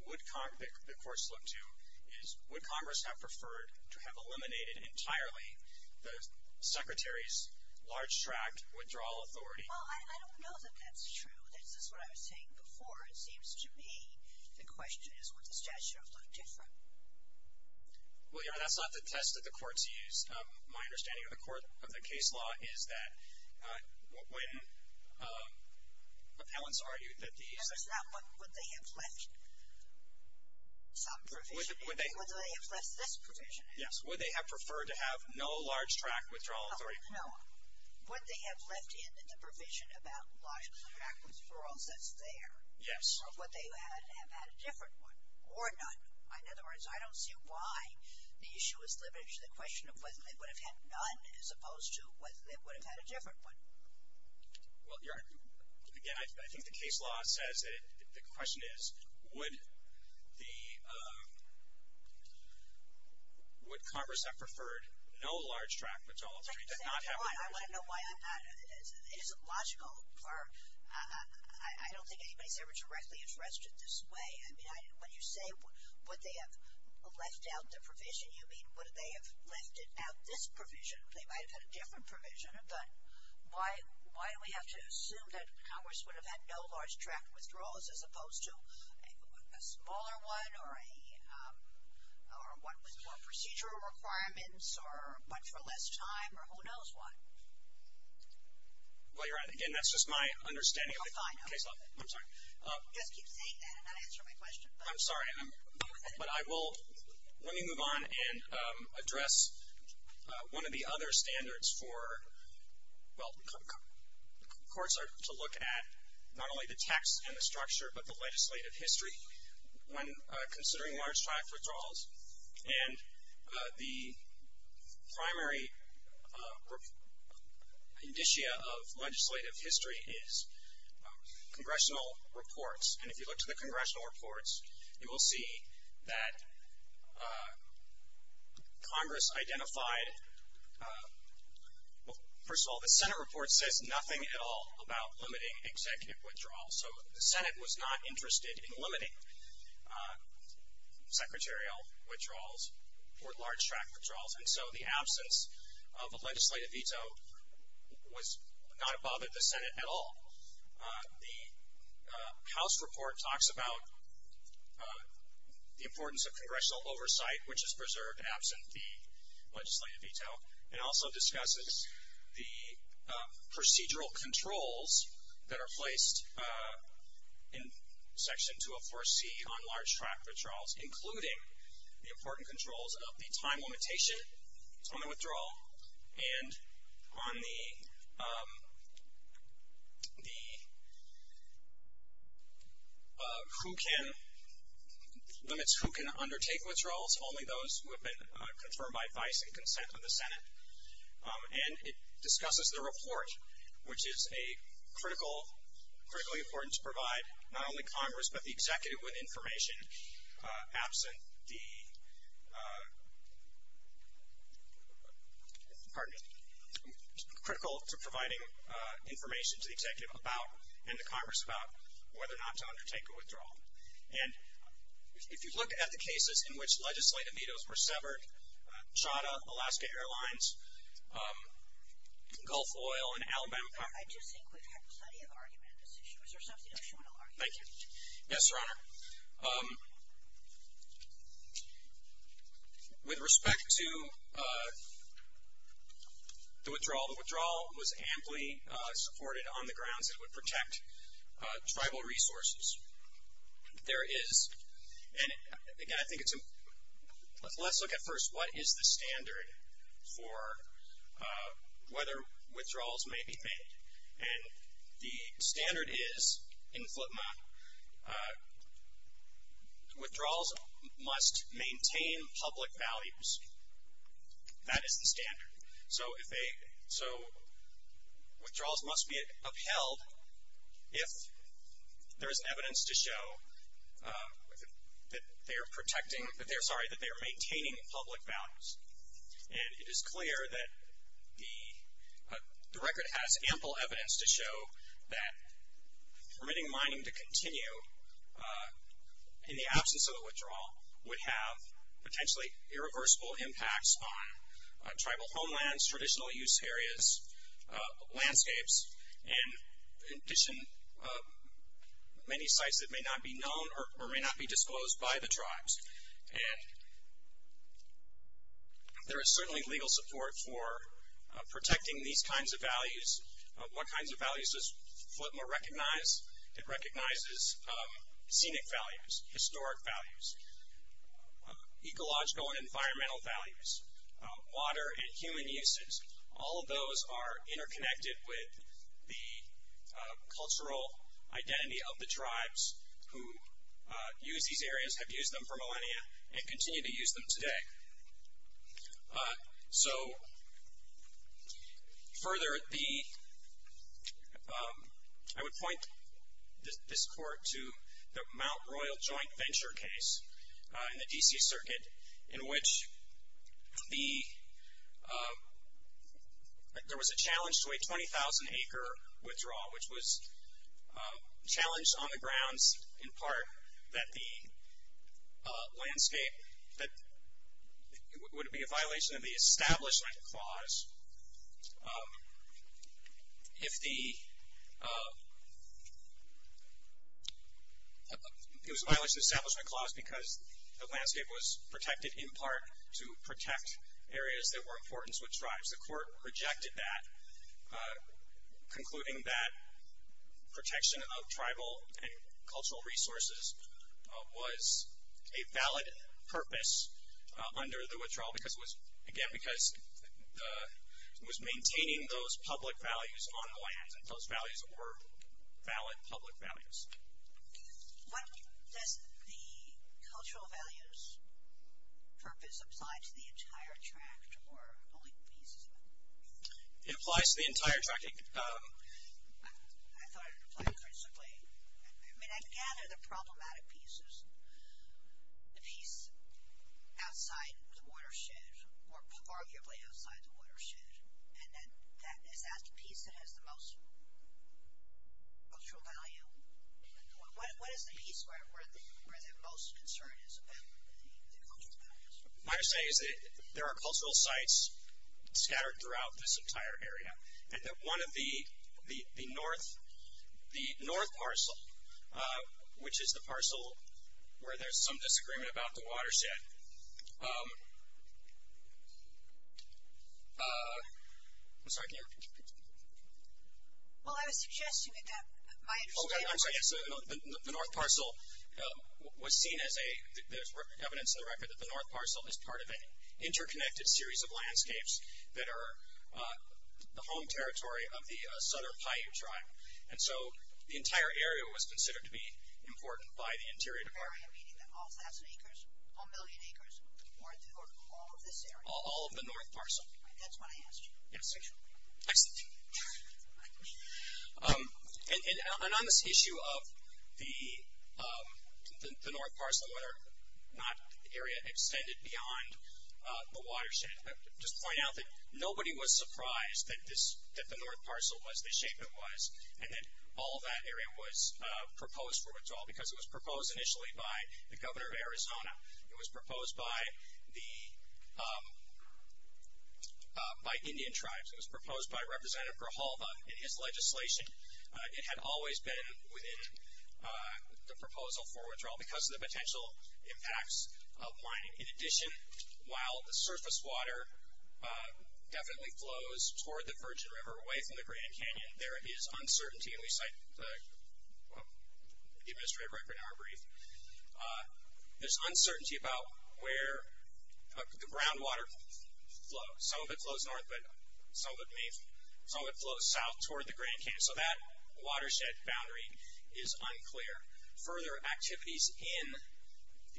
would Congress, the courts look to, is would Congress have preferred to have eliminated entirely the Secretary's large tract withdrawal authority? Well, I don't know that that's true. This is what I was saying before. It seems to me the question is would the statute have looked different? Well, Your Honor, that's not the test that the courts use. My understanding of the court, of the case law, is that when appellants argued that these... That was not what would they have left some provision in. Would they have left this provision in? Yes. Would they have preferred to have no large tract withdrawal authority? No. Would they have left in the provision about large tract withdrawals that's there? Yes. Or would they have had a different one or none? In other words, I don't see why the issue is limited to the question of whether they would have had none as opposed to whether they would have had a different one. Well, Your Honor, again, I think the case law says that the question is would the... Would Congress have preferred no large tract withdrawal authority? Your Honor, I want to know why I'm not... It isn't logical for... I don't think anybody's ever directly interested this way. I mean, when you say would they have left out the provision, you mean would they have left it out this provision? They might have had a different provision, but why do we have to assume that Congress would have had no large tract withdrawals as opposed to a smaller one or a... or one with more procedural requirements or one for less time or who knows what? Well, Your Honor, again, that's just my understanding of the case law. Oh, fine. Okay. I'm sorry. You just keep saying that and not answer my question. I'm sorry, but I will... Let me move on and address one of the other standards for... Well, courts are to look at not only the text and the structure, but the legislative history when considering large tract withdrawals. And the primary indicia of legislative history is congressional reports. And if you look to the congressional reports, you will see that Congress identified... Well, first of all, the Senate report says nothing at all about limiting executive withdrawals. So the Senate was not interested in limiting secretarial withdrawals or large tract withdrawals. And so the absence of a legislative veto was not above the Senate at all. The House report talks about the importance of congressional oversight, which is preserved absent the legislative veto. It also discusses the procedural controls that are placed in Section 204C on large tract withdrawals, including the important controls of the time limitation on the withdrawal and on the limits who can undertake withdrawals, if only those who have been confirmed by vice and consent of the Senate. And it discusses the report, which is a critical, critically important to provide not only Congress, but the executive with information absent the... Pardon me... Critical to providing information to the executive about and to Congress about whether or not to undertake a withdrawal. And if you look at the cases in which legislative vetoes were severed, Chadha, Alaska Airlines, Gulf Oil, and Alabama... I just think we've had plenty of argument on this issue. Is there something else you want to argue? Thank you. Yes, Your Honor. With respect to the withdrawal, the withdrawal was amply supported on the grounds that it would protect tribal resources. There is... And, again, I think it's a... Let's look at first what is the standard for whether withdrawals may be made. And the standard is in FLTMA, withdrawals must maintain public values. That is the standard. So withdrawals must be upheld if there is evidence to show that they are protecting... Sorry, that they are maintaining public values. And it is clear that the record has ample evidence to show that permitting mining to continue in the absence of a withdrawal would have potentially irreversible impacts on tribal homelands, traditional use areas, landscapes, and, in addition, many sites that may not be known or may not be disclosed by the tribes. And there is certainly legal support for protecting these kinds of values. What kinds of values does FLTMA recognize? It recognizes scenic values, historic values, ecological and environmental values, water and human uses. All of those are interconnected with the cultural identity of the tribes who use these areas, have used them for millennia, and continue to use them today. So further, I would point this court to the Mount Royal Joint Venture case in the D.C. Circuit in which there was a challenge to a 20,000-acre withdrawal, which was challenged on the grounds, in part, that the landscape, that it would be a violation of the Establishment Clause if the, it was a violation of the Establishment Clause because the landscape was protected, in part, to protect areas that were important to the tribes. The court rejected that, concluding that protection of tribal and cultural resources was a valid purpose under the withdrawal because it was, again, because it was maintaining those public values on the land and those values were valid public values. What does the cultural values purpose apply to the entire tract or only pieces of it? It applies to the entire tract. I thought it would apply principally, I mean, I gather the problematic pieces, the piece outside the watershed or arguably outside the watershed, and then is that the piece that has the most cultural value? What is the piece where the most concern is about the cultural values? My understanding is that there are cultural sites scattered throughout this entire area and that one of the north parcel, which is the parcel where there's some disagreement about the watershed, I'm sorry, can you repeat your question? Well, I was suggesting that my understanding of the north parcel was seen as a, there's evidence in the record that the north parcel is part of an interconnected series of landscapes that are the home territory of the Sutter Paiute tribe, and so the entire area was considered to be important by the Interior Department. The entire area, meaning that all thousand acres, all million acres, or all of this area? All of the north parcel. That's what I asked you. Yes. Excellent. And on this issue of the north parcel, whether or not the area extended beyond the watershed, I would just point out that nobody was surprised that the north parcel was the shape it was, and that all of that area was proposed for withdrawal because it was proposed initially by the governor of Arizona. It was proposed by Indian tribes. It was proposed by Representative Grijalva in his legislation. It had always been within the proposal for withdrawal because of the potential impacts of mining. In addition, while the surface water definitely flows toward the Virgin River, away from the Grand Canyon, there is uncertainty, and we cite the administrative record in our brief, there's uncertainty about where the groundwater flows. Some of it flows north, but some of it flows south toward the Grand Canyon, so that watershed boundary is unclear. Further activities in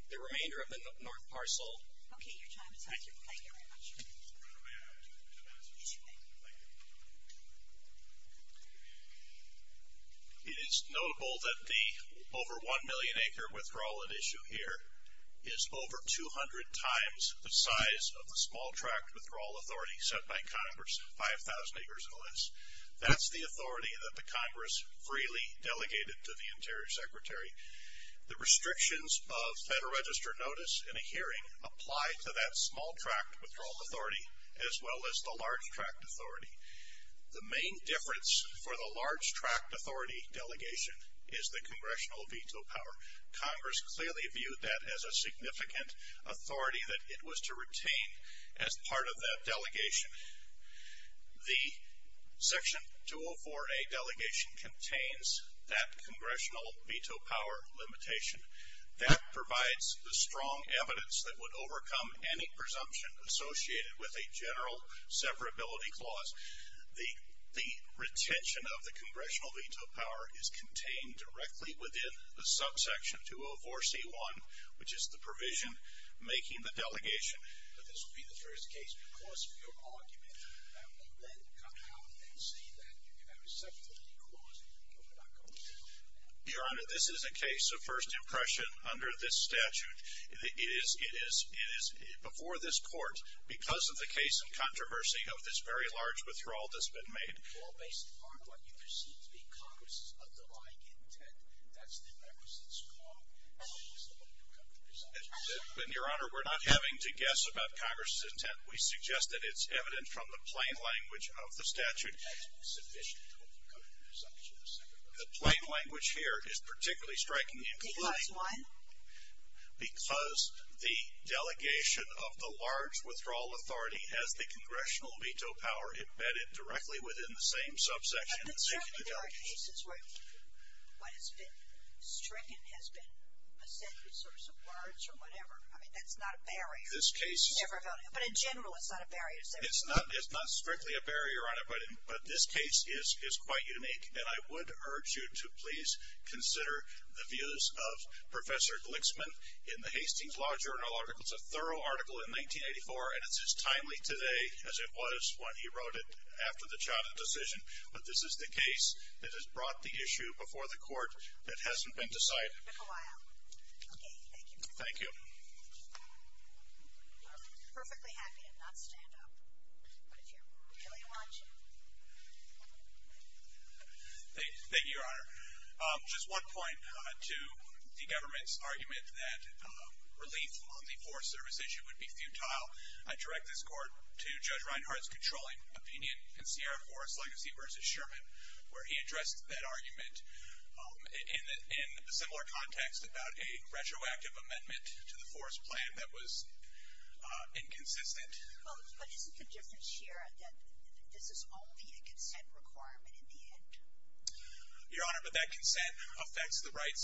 the remainder of the north parcel. Okay, your time is up. Thank you. Thank you very much. I have two messages for you. Thank you. It is notable that the over 1 million acre withdrawal at issue here is over 200 times the size of the small tract withdrawal authority set by Congress, 5,000 acres or less. That's the authority that the Congress freely delegated to the Interior Secretary. The restrictions of Federal Register notice in a hearing apply to that small tract withdrawal authority, as well as the large tract authority. The main difference for the large tract authority delegation is the congressional veto power. Congress clearly viewed that as a significant authority that it was to retain as part of that delegation. The Section 204A delegation contains that congressional veto power limitation. That provides the strong evidence that would overcome any presumption associated with a general severability clause. The retention of the congressional veto power is contained directly within the subsection 204C1, which is the provision making the delegation. But this will be the first case. Because of your argument, that will then come out and say that you have accepted the clause and you're not going to settle for that. Your Honor, this is a case of first impression under this statute. It is before this court because of the case and controversy of this very large withdrawal that's been made. Well, based upon what you perceive to be Congress's underlying intent, that's the members that's called out as the local representatives. Your Honor, we're not having to guess about Congress's intent. We suggest that it's evident from the plain language of the statute. That's sufficient. The plain language here is particularly strikingly inclining. Why? Because the delegation of the large withdrawal authority has the congressional veto power embedded directly within the same subsection. But certainly there are cases where what has been stricken has been a separate source of words or whatever. I mean, that's not a barrier. But in general, it's not a barrier. It's not strictly a barrier, Your Honor, but this case is quite unique. And I would urge you to please consider the views of Professor Glixman in the Hastings Law Journal article. It's a thorough article in 1984, and it's as timely today as it was when he wrote it after the Chatham decision. But this is the case that has brought the issue before the court that hasn't been decided. Thank you. Thank you, Your Honor. Just one point to the government's argument that relief on the Forest Service issue would be futile. I direct this court to Judge Reinhart's controlling opinion in Sierra Forest Legacy v. Sherman, where he addressed that argument in a similar context about a retroactive amendment to the Forest Plan that was inconsistent. But isn't the difference here that this is only a consent requirement in the end? Your Honor, but that consent affects the rights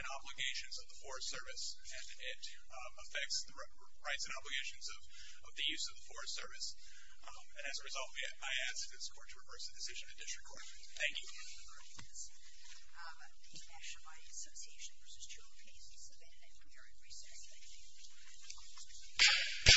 and obligations of the Forest Service, and it affects the rights and obligations of the use of the Forest Service. And as a result, I ask this court to reverse the decision and disregard it. Thank you. Thank you.